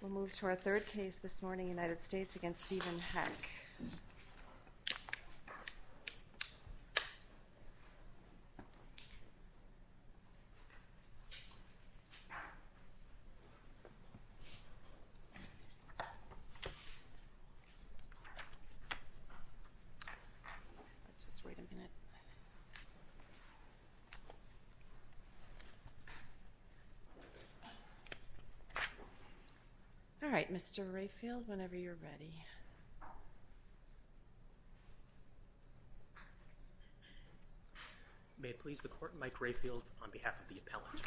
We'll move to our third case this morning, United States v. Steven Hecke. All right, Mr. Rayfield, whenever you're ready. May it please the Court, Mike Rayfield, on behalf of the appellant.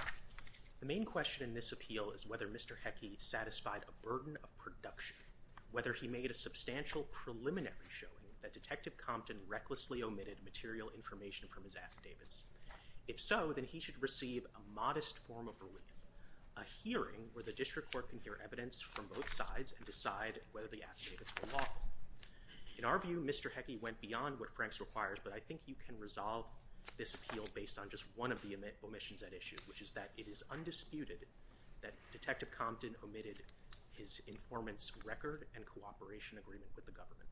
The main question in this appeal is whether Mr. Hecke satisfied a burden of production, whether he made a substantial preliminary showing that Detective Compton recklessly omitted material information from his affidavits. If so, then he should receive a modest form of relief, a hearing where the District Court can hear evidence from both sides and decide whether the affidavits were lawful. In our view, Mr. Hecke went beyond what Franks requires, but I think you can resolve this appeal based on just one of the omissions at issue, which is that it is undisputed that Detective Compton omitted his informant's record and cooperation agreement with the government.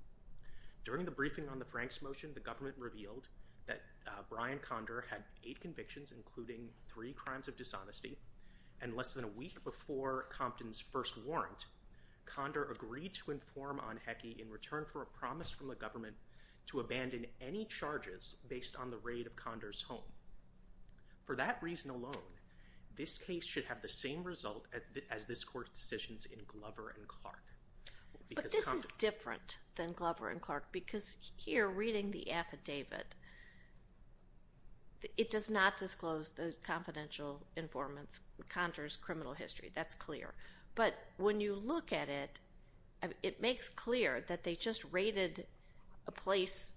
During the briefing on the Franks motion, the government revealed that Brian Condor had eight convictions, including three crimes of dishonesty, and less than a week before Compton's first warrant, Condor agreed to inform on Hecke in return for a promise from the government to abandon any charges based on the raid of Condor's home. For that reason alone, this case should have the same result as this Court's decisions in Glover and Clark. But this is different than Glover and Clark, because here, reading the affidavit, it does not disclose the confidential informant's Condor's criminal history. That's clear. But when you look at it, it makes clear that they just raided a place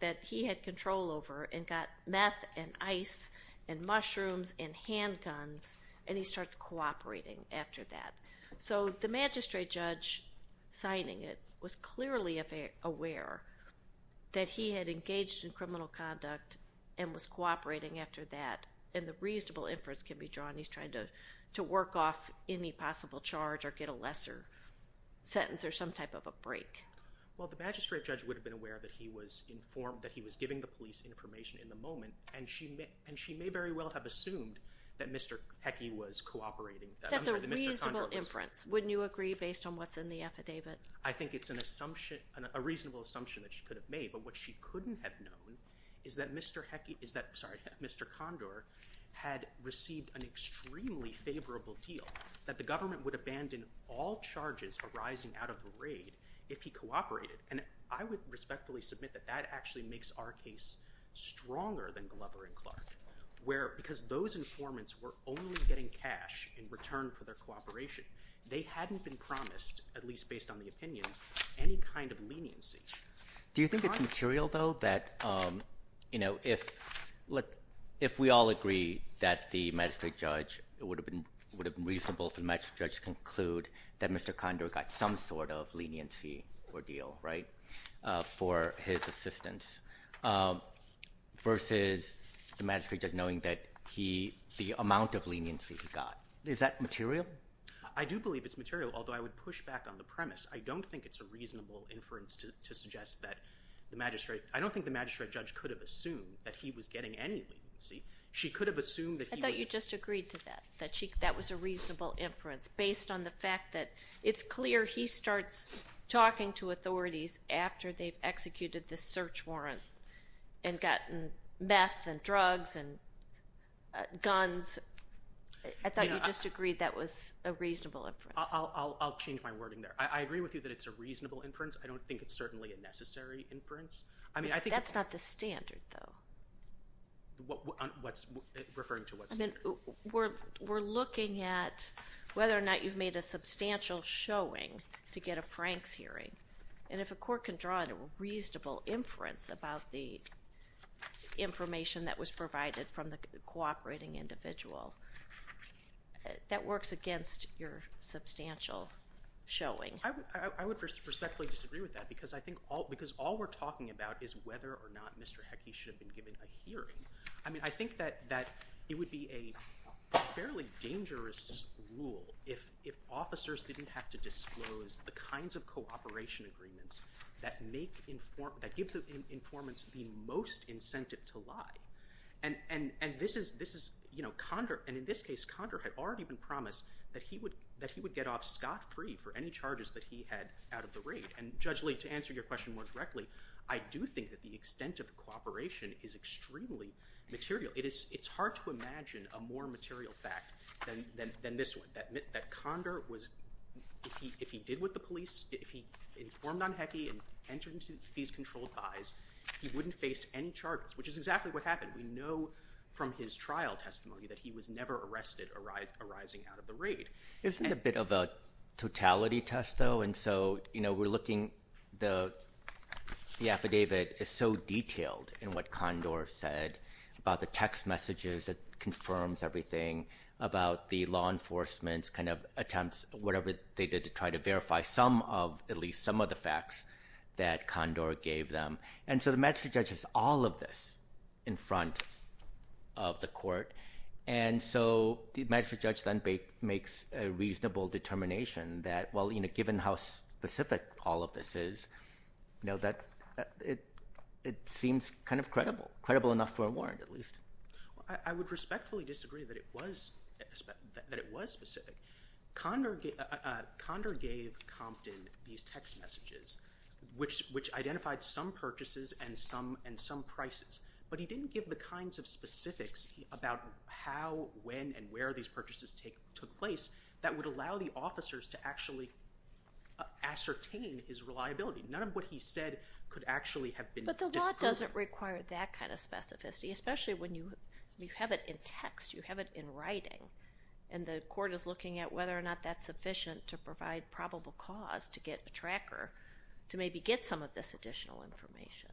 that he had control over and got meth and ice and mushrooms and handguns, and he starts cooperating after that. So the magistrate judge signing it was clearly aware that he had engaged in criminal conduct and was cooperating after that, and the reasonable inference can be drawn he's trying to work off any possible charge or get a lesser sentence or some type of a break. Well, the magistrate judge would have been aware that he was informed, that he was giving the police information in the moment, and she may very well have assumed that Mr. Hecke was cooperating. That's a reasonable inference. Wouldn't you agree based on what's in the affidavit? I think it's a reasonable assumption that she could have made, but what she couldn't have known is that Mr. Condor had received an extremely favorable deal, that the government would abandon all charges arising out of the raid if he cooperated, and I would respectfully submit that that actually makes our case stronger than Glover and Clark, because those informants were only getting cash in return for their cooperation. They hadn't been promised, at least based on the opinions, any kind of leniency. Do you think it's material, though, that if we all agree that the magistrate judge would have been reasonable for the magistrate judge to conclude that Mr. Condor got some sort of leniency or deal for his assistance versus the magistrate judge knowing the amount of leniency he got? Is that material? I do believe it's material, although I would push back on the premise. I don't think it's a reasonable inference to suggest that the magistrate judge could have assumed that he was getting any leniency. She could have assumed that he was getting any leniency. I thought you just agreed to that, that that was a reasonable inference based on the fact that it's clear he starts talking to authorities after they've executed this search warrant and gotten meth and drugs and guns. I thought you just agreed that was a reasonable inference. I'll change my wording there. I agree with you that it's a reasonable inference. I don't think it's certainly a necessary inference. That's not the standard, though. Referring to what standard? We're looking at whether or not you've made a substantial showing to get a Franks hearing. If a court can draw a reasonable inference about the information that was provided from the cooperating individual, that works against your substantial showing. I would respectfully disagree with that because all we're talking about is whether or not Mr. Heckey should have been given a hearing. I think that it would be a fairly dangerous rule if officers didn't have to disclose the kinds of cooperation agreements that give the informants the most incentive to lie. In this case, Condor had already been promised that he would get off scot-free for any charges that he had out of the raid. Judge Lee, to answer your question more directly, I do think that the extent of the cooperation is extremely material. It's hard to imagine a more material fact than this one, that Condor, if he did what the police, if he informed on Heckey and entered into these controlled buys, he wouldn't face any charges, which is exactly what happened. We know from his trial testimony that he was never arrested arising out of the raid. Isn't it a bit of a totality test, though? We're looking at the affidavit is so detailed in what Condor said about the text messages that confirms everything, about the law enforcement's attempts, whatever they did to try to verify at least some of the facts that Condor gave them. The magistrate judge has all of this in front of the court. The magistrate judge then makes a reasonable determination that, given how specific all of this is, it seems kind of credible, credible enough for a warrant at least. I would respectfully disagree that it was specific. Condor gave Compton these text messages, which identified some purchases and some prices, but he didn't give the kinds of specifics about how, when, and where these purchases took place that would allow the officers to actually ascertain his reliability. None of what he said could actually have been disproven. But the law doesn't require that kind of specificity, especially when you have it in text, you have it in writing, and the court is looking at whether or not that's sufficient to provide probable cause to get a tracker to maybe get some of this additional information.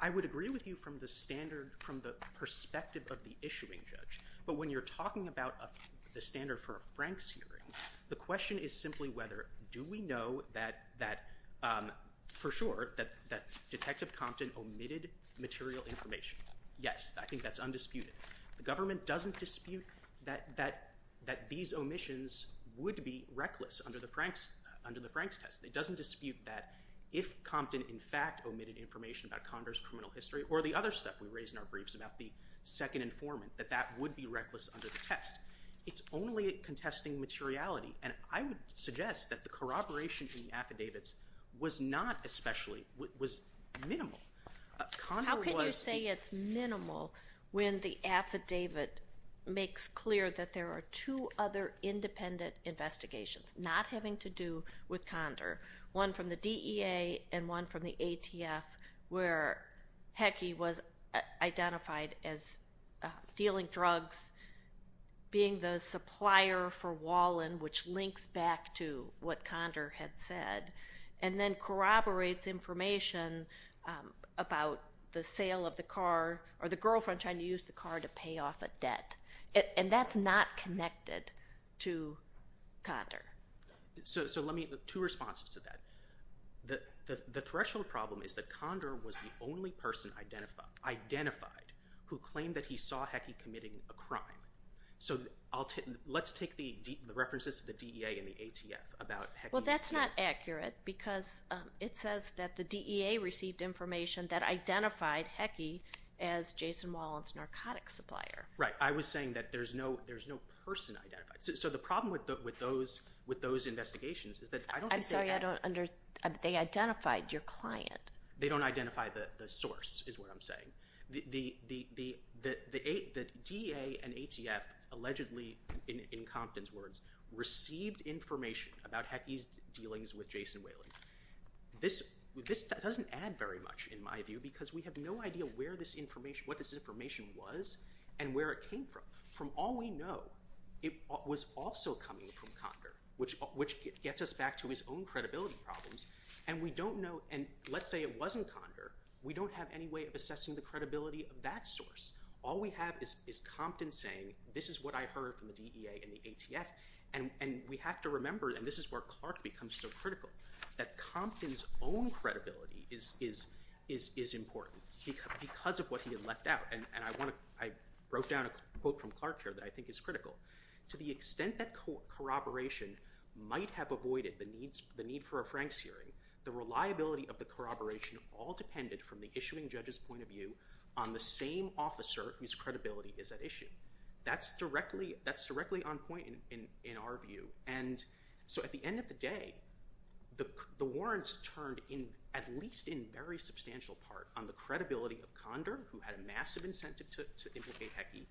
I would agree with you from the perspective of the issuing judge, but when you're talking about the standard for a Franks hearing, the question is simply whether do we know that, for sure, that Detective Compton omitted material information. Yes, I think that's undisputed. The government doesn't dispute that these omissions would be reckless under the Franks test. It doesn't dispute that if Compton in fact omitted information about Condor's criminal history, or the other stuff we raised in our briefs about the second informant, that that would be reckless under the test. It's only contesting materiality, and I would suggest that the corroboration in the affidavits was not especially, was minimal. How can you say it's minimal when the affidavit makes clear that there are two other independent investigations, not having to do with Condor, one from the DEA and one from the ATF, where Heckey was identified as dealing drugs, being the supplier for Wallen, which links back to what Condor had said, and then corroborates information about the sale of the car, or the girlfriend trying to use the car to pay off a debt. And that's not connected to Condor. So let me, two responses to that. The threshold problem is that Condor was the only person identified who claimed that he saw Heckey committing a crime. So let's take the references to the DEA and the ATF about Heckey. Well, that's not accurate, because it says that the DEA received information that identified Heckey as Jason Wallen's narcotics supplier. Right. I was saying that there's no person identified. So the problem with those investigations is that... I'm sorry, I don't understand. They identified your client. They don't identify the source, is what I'm saying. The DEA and ATF allegedly, in Compton's words, received information about Heckey's dealings with Jason Wallen. This doesn't add very much, in my view, because we have no idea what this information was and where it came from. From all we know, it was also coming from Condor, which gets us back to his own credibility problems. And let's say it wasn't Condor. We don't have any way of assessing the credibility of that source. All we have is Compton saying, this is what I heard from the DEA and the ATF. And we have to remember, and this is where Clark becomes so critical, that Compton's own credibility is important, because of what he had left out. And I wrote down a quote from Clark here that I think is critical. To the extent that corroboration might have avoided the need for a Frank's hearing, the reliability of the corroboration all depended, from the issuing judge's point of view, on the same officer whose credibility is at issue. That's directly on point in our view. And so at the end of the day, the warrants turned, at least in very substantial part, on the credibility of Condor, who had a massive incentive to implicate Heckey,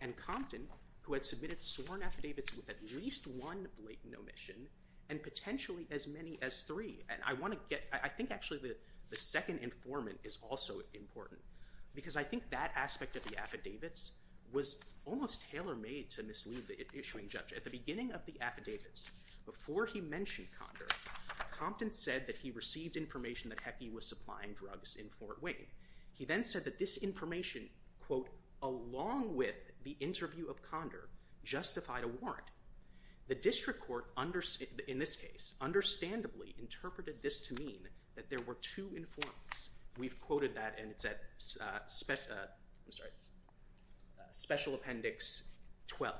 and Compton, who had submitted sworn affidavits with at least one blatant omission, and potentially as many as three. And I think actually the second informant is also important, because I think that aspect of the affidavits was almost tailor-made to mislead the issuing judge. At the beginning of the affidavits, before he mentioned Condor, Compton said that he received information that Heckey was supplying drugs in Fort Wayne. He then said that this information, quote, along with the interview of Condor, justified a warrant. The district court, in this case, understandably interpreted this to mean that there were two informants. We've quoted that, and it's at Special Appendix 12.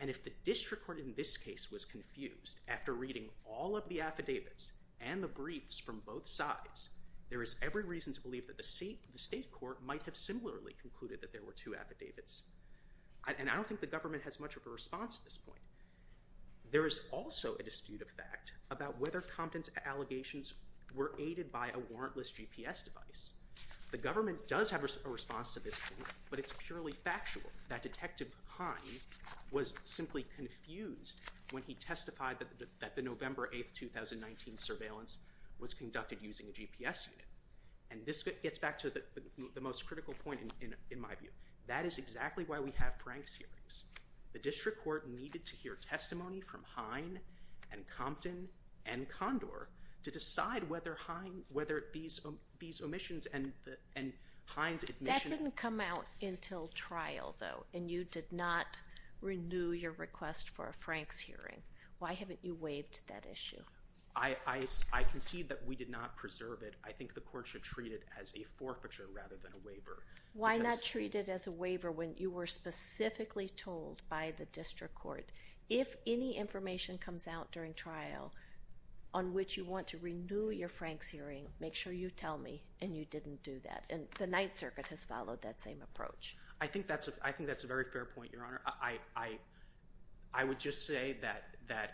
And if the district court in this case was confused, after reading all of the affidavits and the briefs from both sides, there is every reason to believe that the state court might have similarly concluded that there were two affidavits. And I don't think the government has much of a response to this point. There is also a dispute of fact about whether Compton's allegations were aided by a warrantless GPS device. The government does have a response to this claim, but it's purely factual that Detective Heine was simply confused when he testified that the November 8, 2019 surveillance was conducted using a GPS unit. And this gets back to the most critical point in my view. That is exactly why we have Frank's hearings. The district court needed to hear testimony from Heine and Compton and Condor to decide whether these omissions and Heine's admission. That didn't come out until trial, though, and you did not renew your request for a Frank's hearing. Why haven't you waived that issue? I concede that we did not preserve it. I think the court should treat it as a forfeiture rather than a waiver. Why not treat it as a waiver when you were specifically told by the district court, if any information comes out during trial on which you want to renew your Frank's hearing, make sure you tell me and you didn't do that. And the Ninth Circuit has followed that same approach. I think that's a very fair point, Your Honor. I would just say that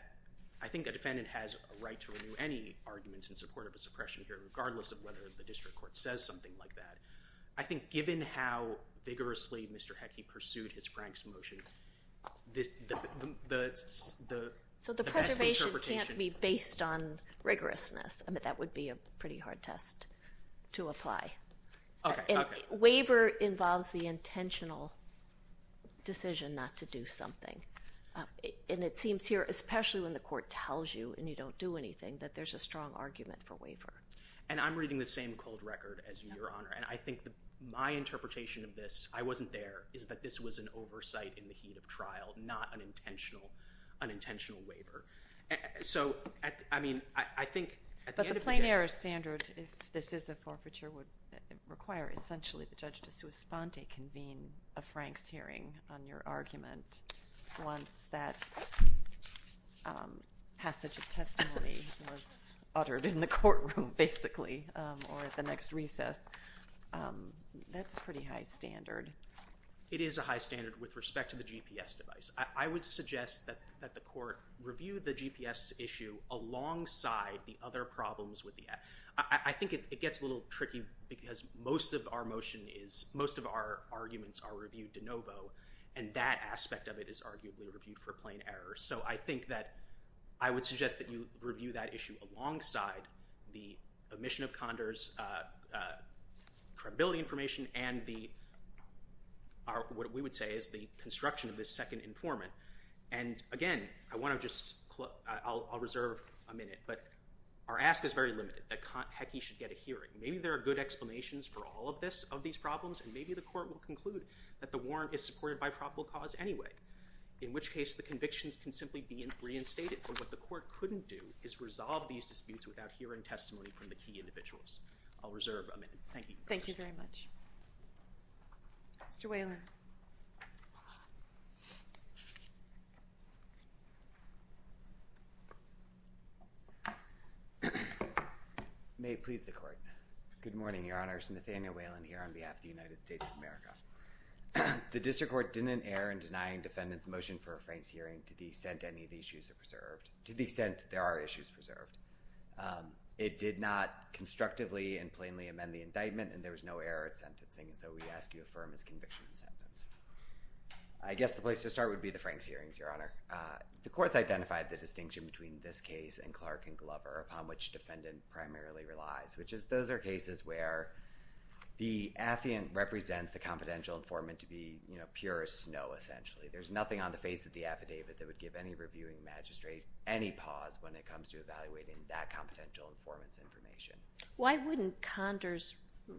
I think a defendant has a right to renew any arguments in support of a suppression hearing regardless of whether the district court says something like that. I think given how vigorously Mr. Heckey pursued his Frank's motion, the best interpretation— So the preservation can't be based on rigorousness. I mean, that would be a pretty hard test to apply. Okay, okay. Waiver involves the intentional decision not to do something. And it seems here, especially when the court tells you and you don't do anything, that there's a strong argument for waiver. And I'm reading the same cold record as you, Your Honor. And I think my interpretation of this—I wasn't there— is that this was an oversight in the heat of trial, not an intentional waiver. So, I mean, I think at the end of the day— I think if this is a forfeiture, it would require essentially the judge to sous-spende, convene a Frank's hearing on your argument once that passage of testimony was uttered in the courtroom, basically, or at the next recess. That's a pretty high standard. It is a high standard with respect to the GPS device. I would suggest that the court review the GPS issue alongside the other problems with the— I think it gets a little tricky because most of our motion is— most of our arguments are reviewed de novo, and that aspect of it is arguably reviewed for plain error. So I think that I would suggest that you review that issue alongside the omission of Condor's and the—what we would say is the construction of this second informant. And again, I want to just—I'll reserve a minute. But our ask is very limited, that Heckey should get a hearing. Maybe there are good explanations for all of these problems, and maybe the court will conclude that the warrant is supported by probable cause anyway, in which case the convictions can simply be reinstated. But what the court couldn't do is resolve these disputes without hearing testimony from the key individuals. I'll reserve a minute. Thank you. Thank you very much. Mr. Whalen. May it please the Court. Good morning, Your Honors. Nathaniel Whalen here on behalf of the United States of America. The district court didn't err in denying defendants' motion for a Frank's hearing to the extent any of the issues are preserved— to the extent there are issues preserved. It did not constructively and plainly amend the indictment, and there was no error in sentencing. And so we ask you affirm this conviction in sentence. I guess the place to start would be the Frank's hearings, Your Honor. The courts identified the distinction between this case and Clark and Glover, upon which defendant primarily relies, which is those are cases where the affiant represents the confidential informant to be pure snow, essentially. There's nothing on the face of the affidavit that would give any reviewing magistrate any pause when it comes to evaluating that confidential informant's information. Why wouldn't Condor's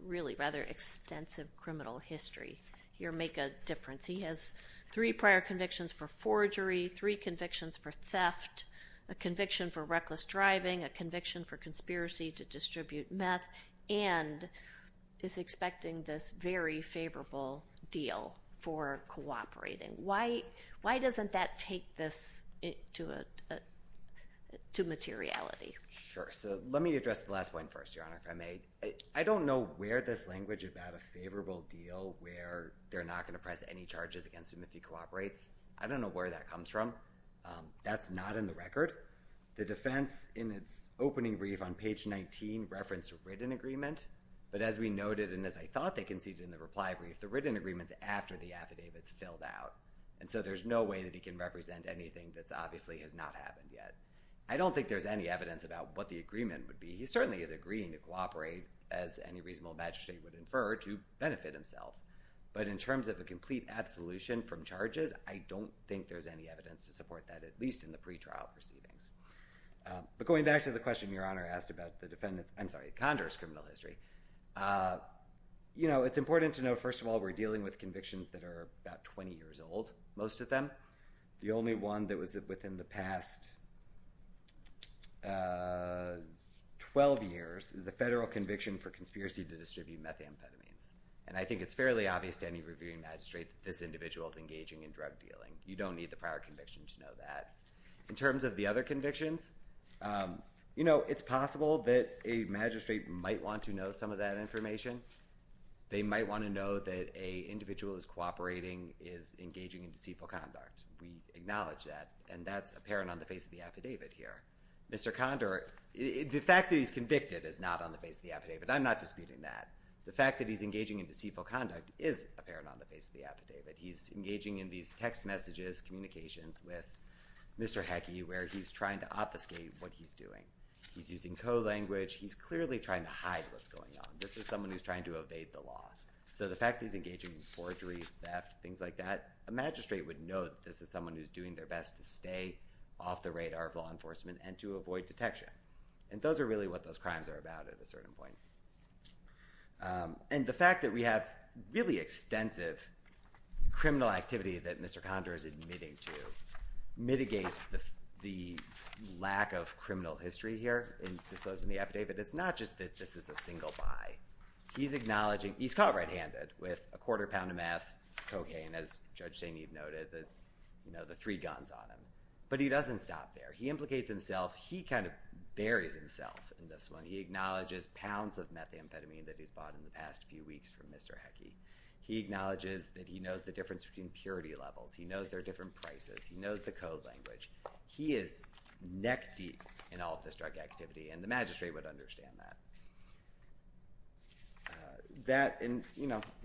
really rather extensive criminal history here make a difference? He has three prior convictions for forgery, three convictions for theft, a conviction for reckless driving, a conviction for conspiracy to distribute meth, and is expecting this very favorable deal for cooperating. Why doesn't that take this to materiality? Sure. So let me address the last point first, Your Honor, if I may. I don't know where this language about a favorable deal, where they're not going to press any charges against him if he cooperates. I don't know where that comes from. That's not in the record. The defense in its opening brief on page 19 referenced a written agreement, but as we noted and as I thought they conceded in the reply brief, the written agreement's after the affidavit's filled out. And so there's no way that he can represent anything that obviously has not happened yet. I don't think there's any evidence about what the agreement would be. He certainly is agreeing to cooperate, as any reasonable magistrate would infer, to benefit himself. But in terms of a complete absolution from charges, I don't think there's any evidence to support that, at least in the pretrial proceedings. But going back to the question Your Honor asked about the defendant's, I'm sorry, Condor's criminal history, it's important to know, first of all, we're dealing with convictions that are about 20 years old, most of them. The only one that was within the past 12 years is the federal conviction for conspiracy to distribute methamphetamines. And I think it's fairly obvious to any reviewing magistrate that this individual is engaging in drug dealing. You don't need the prior conviction to know that. In terms of the other convictions, you know, it's possible that a magistrate might want to know some of that information. They might want to know that an individual is cooperating, is engaging in deceitful conduct. We acknowledge that, and that's apparent on the face of the affidavit here. Mr. Condor, the fact that he's convicted is not on the face of the affidavit. I'm not disputing that. The fact that he's engaging in deceitful conduct is apparent on the face of the affidavit. He's engaging in these text messages, communications with Mr. Hecke, where he's trying to obfuscate what he's doing. He's using co-language. He's clearly trying to hide what's going on. This is someone who's trying to evade the law. So the fact that he's engaging in forgery, theft, things like that, a magistrate would know that this is someone who's doing their best to stay off the radar of law enforcement and to avoid detection. And those are really what those crimes are about at a certain point. And the fact that we have really extensive criminal activity that Mr. Condor is admitting to mitigates the lack of criminal history here in disclosing the affidavit. It's not just that this is a single buy. He's caught right-handed with a quarter pound of meth, cocaine, as Judge St. Eve noted, the three guns on him. But he doesn't stop there. He implicates himself. He kind of buries himself in this one. He acknowledges pounds of methamphetamine that he's bought in the past few weeks from Mr. Heckey. He acknowledges that he knows the difference between purity levels. He knows there are different prices. He knows the code language. He is neck deep in all of this drug activity, and the magistrate would understand that. And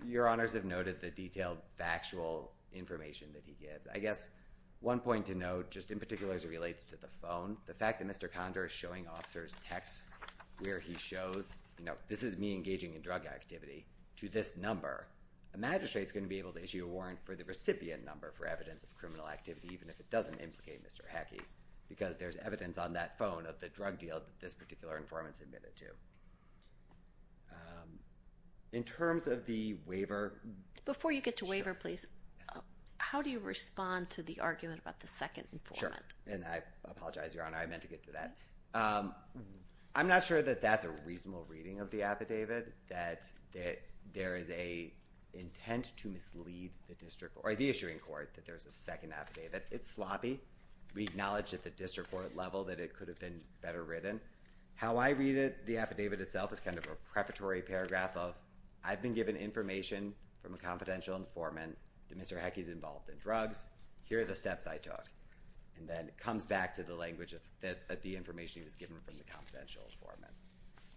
your honors have noted the detailed factual information that he gives. I guess one point to note, just in particular as it relates to the phone, the fact that Mr. Condor is showing officers texts where he shows, you know, this is me engaging in drug activity to this number, a magistrate is going to be able to issue a warrant for the recipient number for evidence of criminal activity, even if it doesn't implicate Mr. Heckey, because there's evidence on that phone of the drug deal that this particular informant submitted to. In terms of the waiver. Before you get to waiver, please, how do you respond to the argument about the second informant? Sure, and I apologize, your honor. I meant to get to that. I'm not sure that that's a reasonable reading of the affidavit, that there is an intent to mislead the district or the issuing court that there's a second affidavit. It's sloppy. We acknowledge at the district court level that it could have been better written. How I read it, the affidavit itself, is kind of a preparatory paragraph of, I've been given information from a confidential informant that Mr. Heckey is involved in drugs. Here are the steps I took. And then it comes back to the language that the information was given from the confidential informant.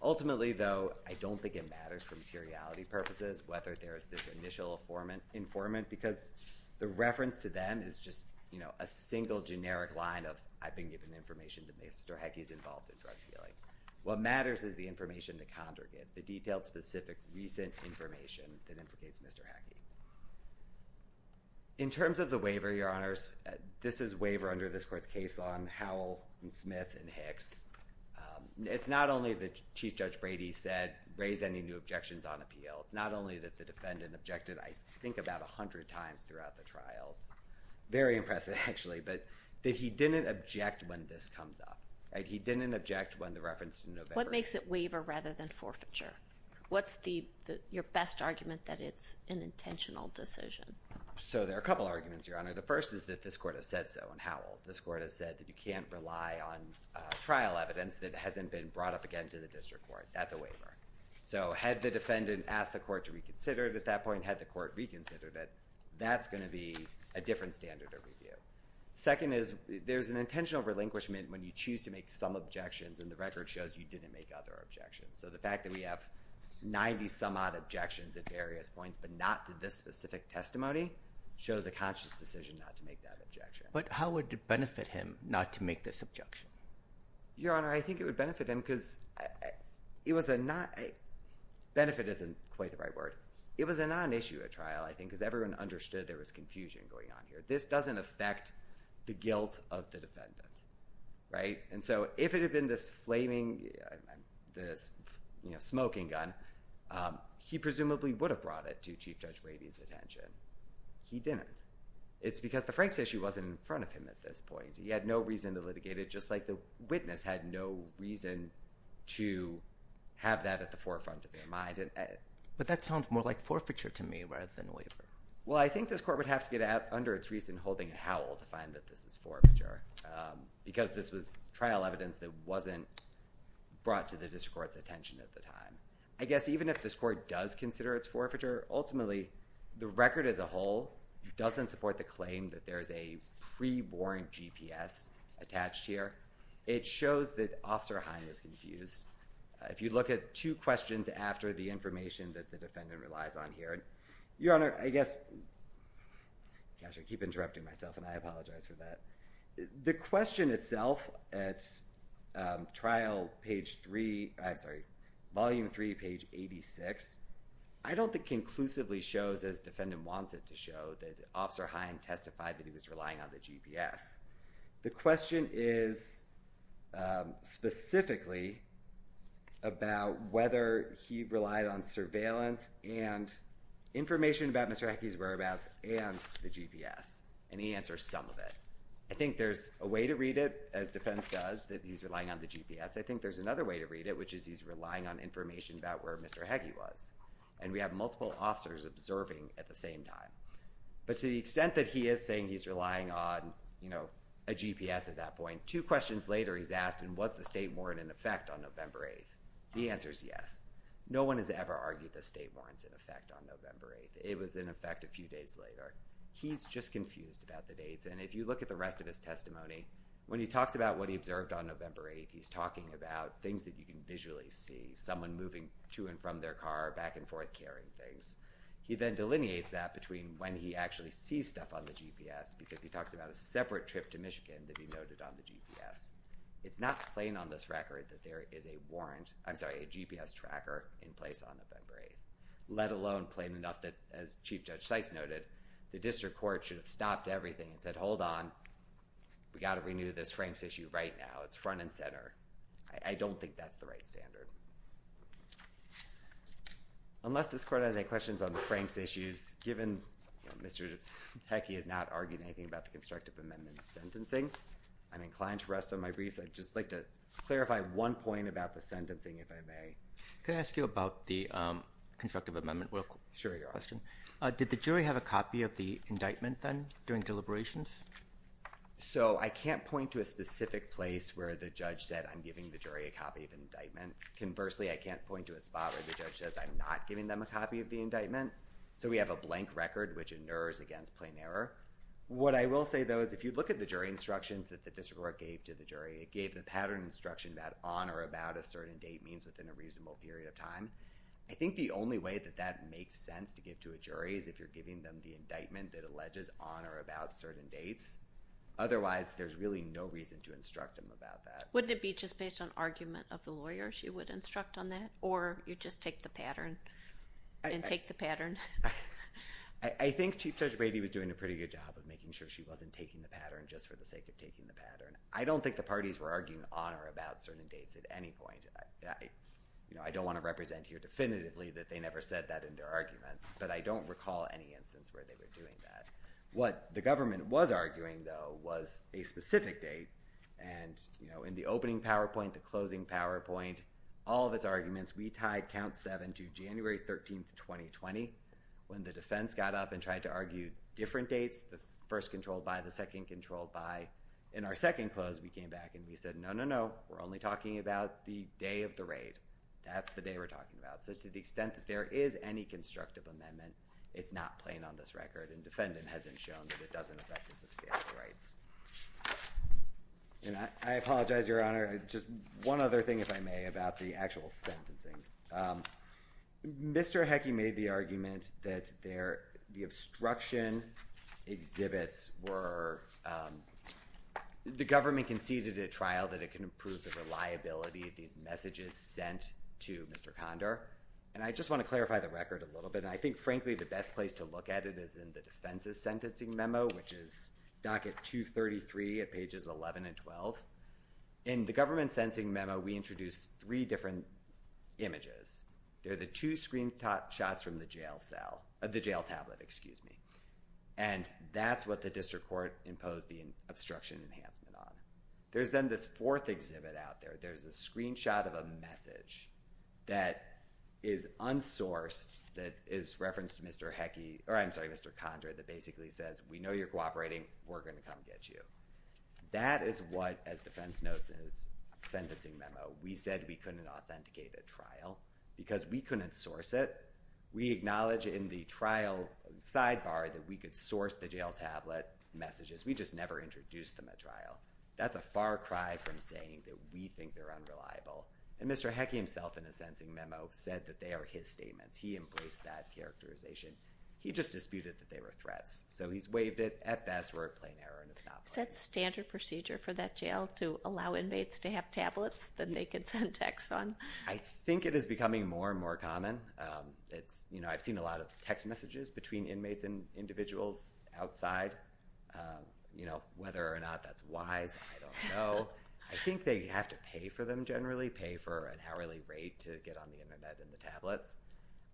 Ultimately, though, I don't think it matters for materiality purposes whether there is this initial informant, because the reference to them is just a single generic line of, I've been given information that Mr. Heckey is involved in drug dealing. What matters is the information the condor gives, the detailed, specific, recent information that implicates Mr. Heckey. In terms of the waiver, Your Honors, this is waiver under this court's case law on Howell and Smith and Hicks. It's not only that Chief Judge Brady said, raise any new objections on appeal. It's not only that the defendant objected, I think, about a hundred times throughout the trial. It's very impressive, actually, but that he didn't object when this comes up. He didn't object when the reference to November. What makes it waiver rather than forfeiture? What's your best argument that it's an intentional decision? So there are a couple arguments, Your Honor. The first is that this court has said so on Howell. This court has said that you can't rely on trial evidence that hasn't been brought up again to the district court. That's a waiver. So had the defendant asked the court to reconsider it at that point, had the court reconsidered it, that's going to be a different standard of review. Second is there's an intentional relinquishment when you choose to make some objections, and the record shows you didn't make other objections. So the fact that we have 90-some-odd objections at various points but not to this specific testimony shows a conscious decision not to make that objection. But how would it benefit him not to make this objection? Your Honor, I think it would benefit him because it was a not – benefit isn't quite the right word. It was a non-issue at trial, I think, because everyone understood there was confusion going on here. This doesn't affect the guilt of the defendant. And so if it had been this flaming – this smoking gun, he presumably would have brought it to Chief Judge Wadey's attention. He didn't. It's because the Franks issue wasn't in front of him at this point. He had no reason to litigate it just like the witness had no reason to have that at the forefront of their mind. But that sounds more like forfeiture to me rather than waiver. Well, I think this court would have to get under its wreath in holding a howl to find that this is forfeiture because this was trial evidence that wasn't brought to the district court's attention at the time. I guess even if this court does consider it's forfeiture, ultimately the record as a whole doesn't support the claim that there's a pre-warrant GPS attached here. It shows that Officer Hine is confused. If you look at two questions after the information that the defendant relies on here, Your Honor, I guess – gosh, I keep interrupting myself and I apologize for that. The question itself at trial page three – I'm sorry, volume three, page 86, I don't think conclusively shows as defendant wants it to show that Officer Hine testified that he was relying on the GPS. The question is specifically about whether he relied on surveillance and information about Mr. Heggie's whereabouts and the GPS, and he answers some of it. I think there's a way to read it, as defense does, that he's relying on the GPS. I think there's another way to read it, which is he's relying on information about where Mr. Heggie was, and we have multiple officers observing at the same time. But to the extent that he is saying he's relying on a GPS at that point, two questions later he's asked, and was the state warrant in effect on November 8th? The answer is yes. No one has ever argued the state warrant's in effect on November 8th. It was in effect a few days later. He's just confused about the dates, and if you look at the rest of his testimony, when he talks about what he observed on November 8th, he's talking about things that you can visually see, someone moving to and from their car, back and forth carrying things. He then delineates that between when he actually sees stuff on the GPS, because he talks about a separate trip to Michigan to be noted on the GPS. It's not plain on this record that there is a GPS tracker in place on November 8th, let alone plain enough that, as Chief Judge Sykes noted, the district court should have stopped everything and said, hold on, we've got to renew this Franks issue right now. It's front and center. I don't think that's the right standard. Unless this court has any questions on the Franks issues, given Mr. Heckey has not argued anything about the constructive amendment sentencing, I'm inclined to rest on my briefs. I'd just like to clarify one point about the sentencing, if I may. Can I ask you about the constructive amendment question? Sure, you are. Did the jury have a copy of the indictment then during deliberations? So I can't point to a specific place where the judge said, I'm giving the jury a copy of the indictment. Conversely, I can't point to a spot where the judge says, I'm not giving them a copy of the indictment. So we have a blank record, which inures against plain error. What I will say, though, is if you look at the jury instructions that the district court gave to the jury, it gave the pattern instruction that on or about a certain date means within a reasonable period of time. I think the only way that that makes sense to give to a jury is if you're giving them the indictment that alleges on or about certain dates. Otherwise, there's really no reason to instruct them about that. Wouldn't it be just based on argument of the lawyer she would instruct on that, or you just take the pattern and take the pattern? I think Chief Judge Brady was doing a pretty good job of making sure she wasn't taking the pattern just for the sake of taking the pattern. I don't think the parties were arguing on or about certain dates at any point. I don't want to represent here definitively that they never said that in their arguments, but I don't recall any instance where they were doing that. What the government was arguing, though, was a specific date. In the opening PowerPoint, the closing PowerPoint, all of its arguments, we tied count seven to January 13, 2020 when the defense got up and tried to argue different dates, the first controlled by, the second controlled by. In our second close, we came back and we said, no, no, no, we're only talking about the day of the raid. That's the day we're talking about. To the extent that there is any constructive amendment, it's not plain on this record, the defendant hasn't shown that it doesn't affect the substantive rights. I apologize, Your Honor. Just one other thing, if I may, about the actual sentencing. Mr. Heckey made the argument that the obstruction exhibits were, the government conceded at a trial that it can improve the reliability of these messages sent to Mr. Condor. I just want to clarify the record a little bit. I think, frankly, the best place to look at it is in the defense's sentencing memo, which is docket 233 at pages 11 and 12. In the government's sentencing memo, we introduced three different images. They're the two screenshots from the jail cell, the jail tablet, excuse me. That's what the district court imposed the obstruction enhancement on. There's then this fourth exhibit out there. There's a screenshot of a message that is unsourced that is referenced to Mr. Heckey, or I'm sorry, Mr. Condor, that basically says, we know you're cooperating. We're going to come get you. That is what, as defense notes in his sentencing memo, we said we couldn't authenticate at trial because we couldn't source it. We acknowledge in the trial sidebar that we could source the jail tablet messages. We just never introduced them at trial. That's a far cry from saying that we think they're unreliable. And Mr. Heckey himself in his sentencing memo said that they are his statements. He embraced that characterization. He just disputed that they were threats. So he's waived it. At best, we're at plain error, and it's not quite right. Is that standard procedure for that jail to allow inmates to have tablets that they can send texts on? I think it is becoming more and more common. I've seen a lot of text messages between inmates and individuals outside, whether or not that's wise, I don't know. I think they have to pay for them generally, pay for an hourly rate to get on the Internet and the tablets.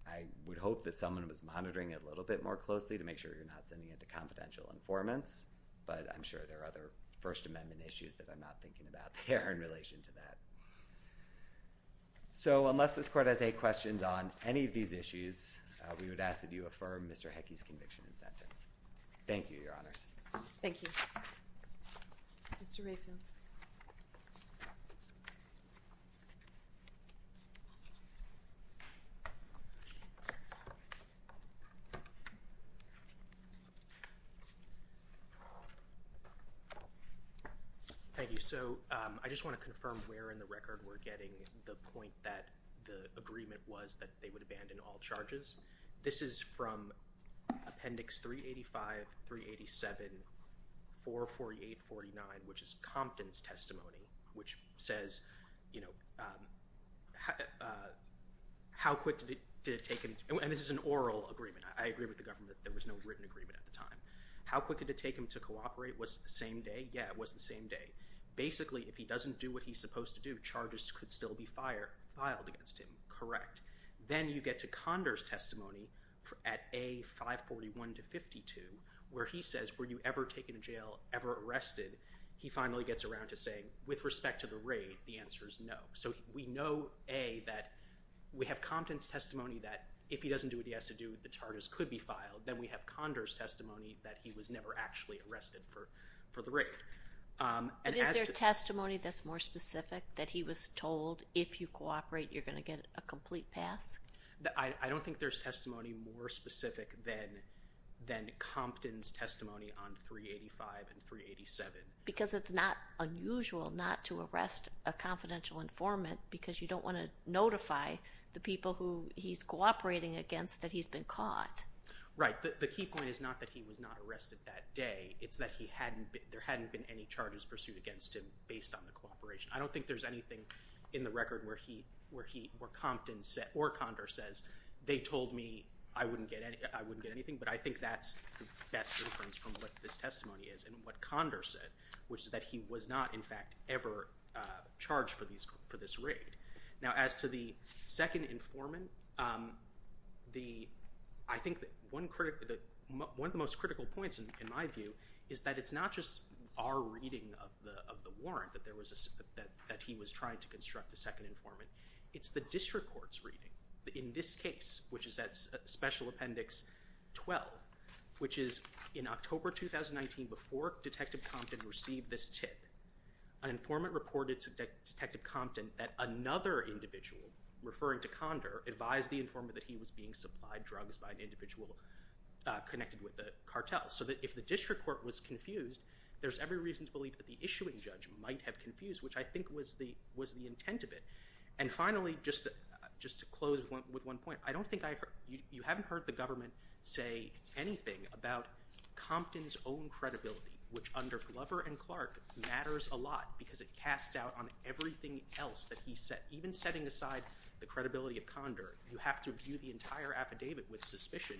I would hope that someone was monitoring it a little bit more closely to make sure you're not sending it to confidential informants, but I'm sure there are other First Amendment issues that I'm not thinking about there in relation to that. So unless this court has any questions on any of these issues, we would ask that you affirm Mr. Heckey's conviction and sentence. Thank you, Your Honors. Thank you. Mr. Mayfield. Thank you. So I just want to confirm where in the record we're getting the point that the agreement was that they would abandon all charges. This is from Appendix 385, 387, 448, 49, which is Compton's testimony, which says how quick did it take him, and this is an oral agreement. I agree with the government that there was no written agreement at the time. How quick did it take him to cooperate? Was it the same day? Yeah, it was the same day. Basically, if he doesn't do what he's supposed to do, charges could still be filed against him. Correct. Then you get to Condor's testimony at A, 541 to 52, where he says, were you ever taken to jail, ever arrested? He finally gets around to saying, with respect to the raid, the answer is no. So we know, A, that we have Compton's testimony that if he doesn't do what he has to do, the charges could be filed. Then we have Condor's testimony that he was never actually arrested for the raid. But is there testimony that's more specific, that he was told, if you cooperate, you're going to get a complete pass? I don't think there's testimony more specific than Compton's testimony on 385 and 387. Because it's not unusual not to arrest a confidential informant because you don't want to notify the people who he's cooperating against that he's been caught. Right. The key point is not that he was not arrested that day. It's that there hadn't been any charges pursued against him based on the cooperation. I don't think there's anything in the record where Compton or Condor says, they told me I wouldn't get anything. But I think that's the best inference from what this testimony is and what Condor said, which is that he was not, in fact, ever charged for this raid. Now, as to the second informant, I think one of the most critical points, in my view, is that it's not just our reading of the warrant that he was trying to construct a second informant. It's the district court's reading. In this case, which is at Special Appendix 12, which is in October 2019, before Detective Compton received this tip, an informant reported to Detective Compton that another individual, referring to Condor, advised the informant that he was being supplied drugs by an individual connected with the cartel. So that if the district court was confused, there's every reason to believe that the issuing judge might have confused, which I think was the intent of it. And finally, just to close with one point, you haven't heard the government say anything about Compton's own credibility, which under Glover and Clark matters a lot because it casts doubt on everything else that he said. Even setting aside the credibility of Condor, you have to view the entire affidavit with suspicion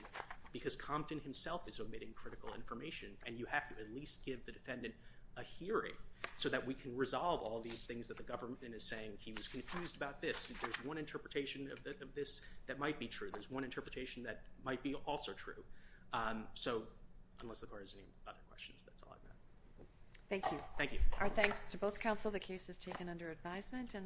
because Compton himself is omitting critical information, and you have to at least give the defendant a hearing so that we can resolve all these things that the government is saying he was confused about this. There's one interpretation of this that might be true. There's one interpretation that might be also true. So unless the court has any other questions, that's all I've got. Thank you. Thank you. Our thanks to both counsel. The case is taken under advisement, and the court will adjourn.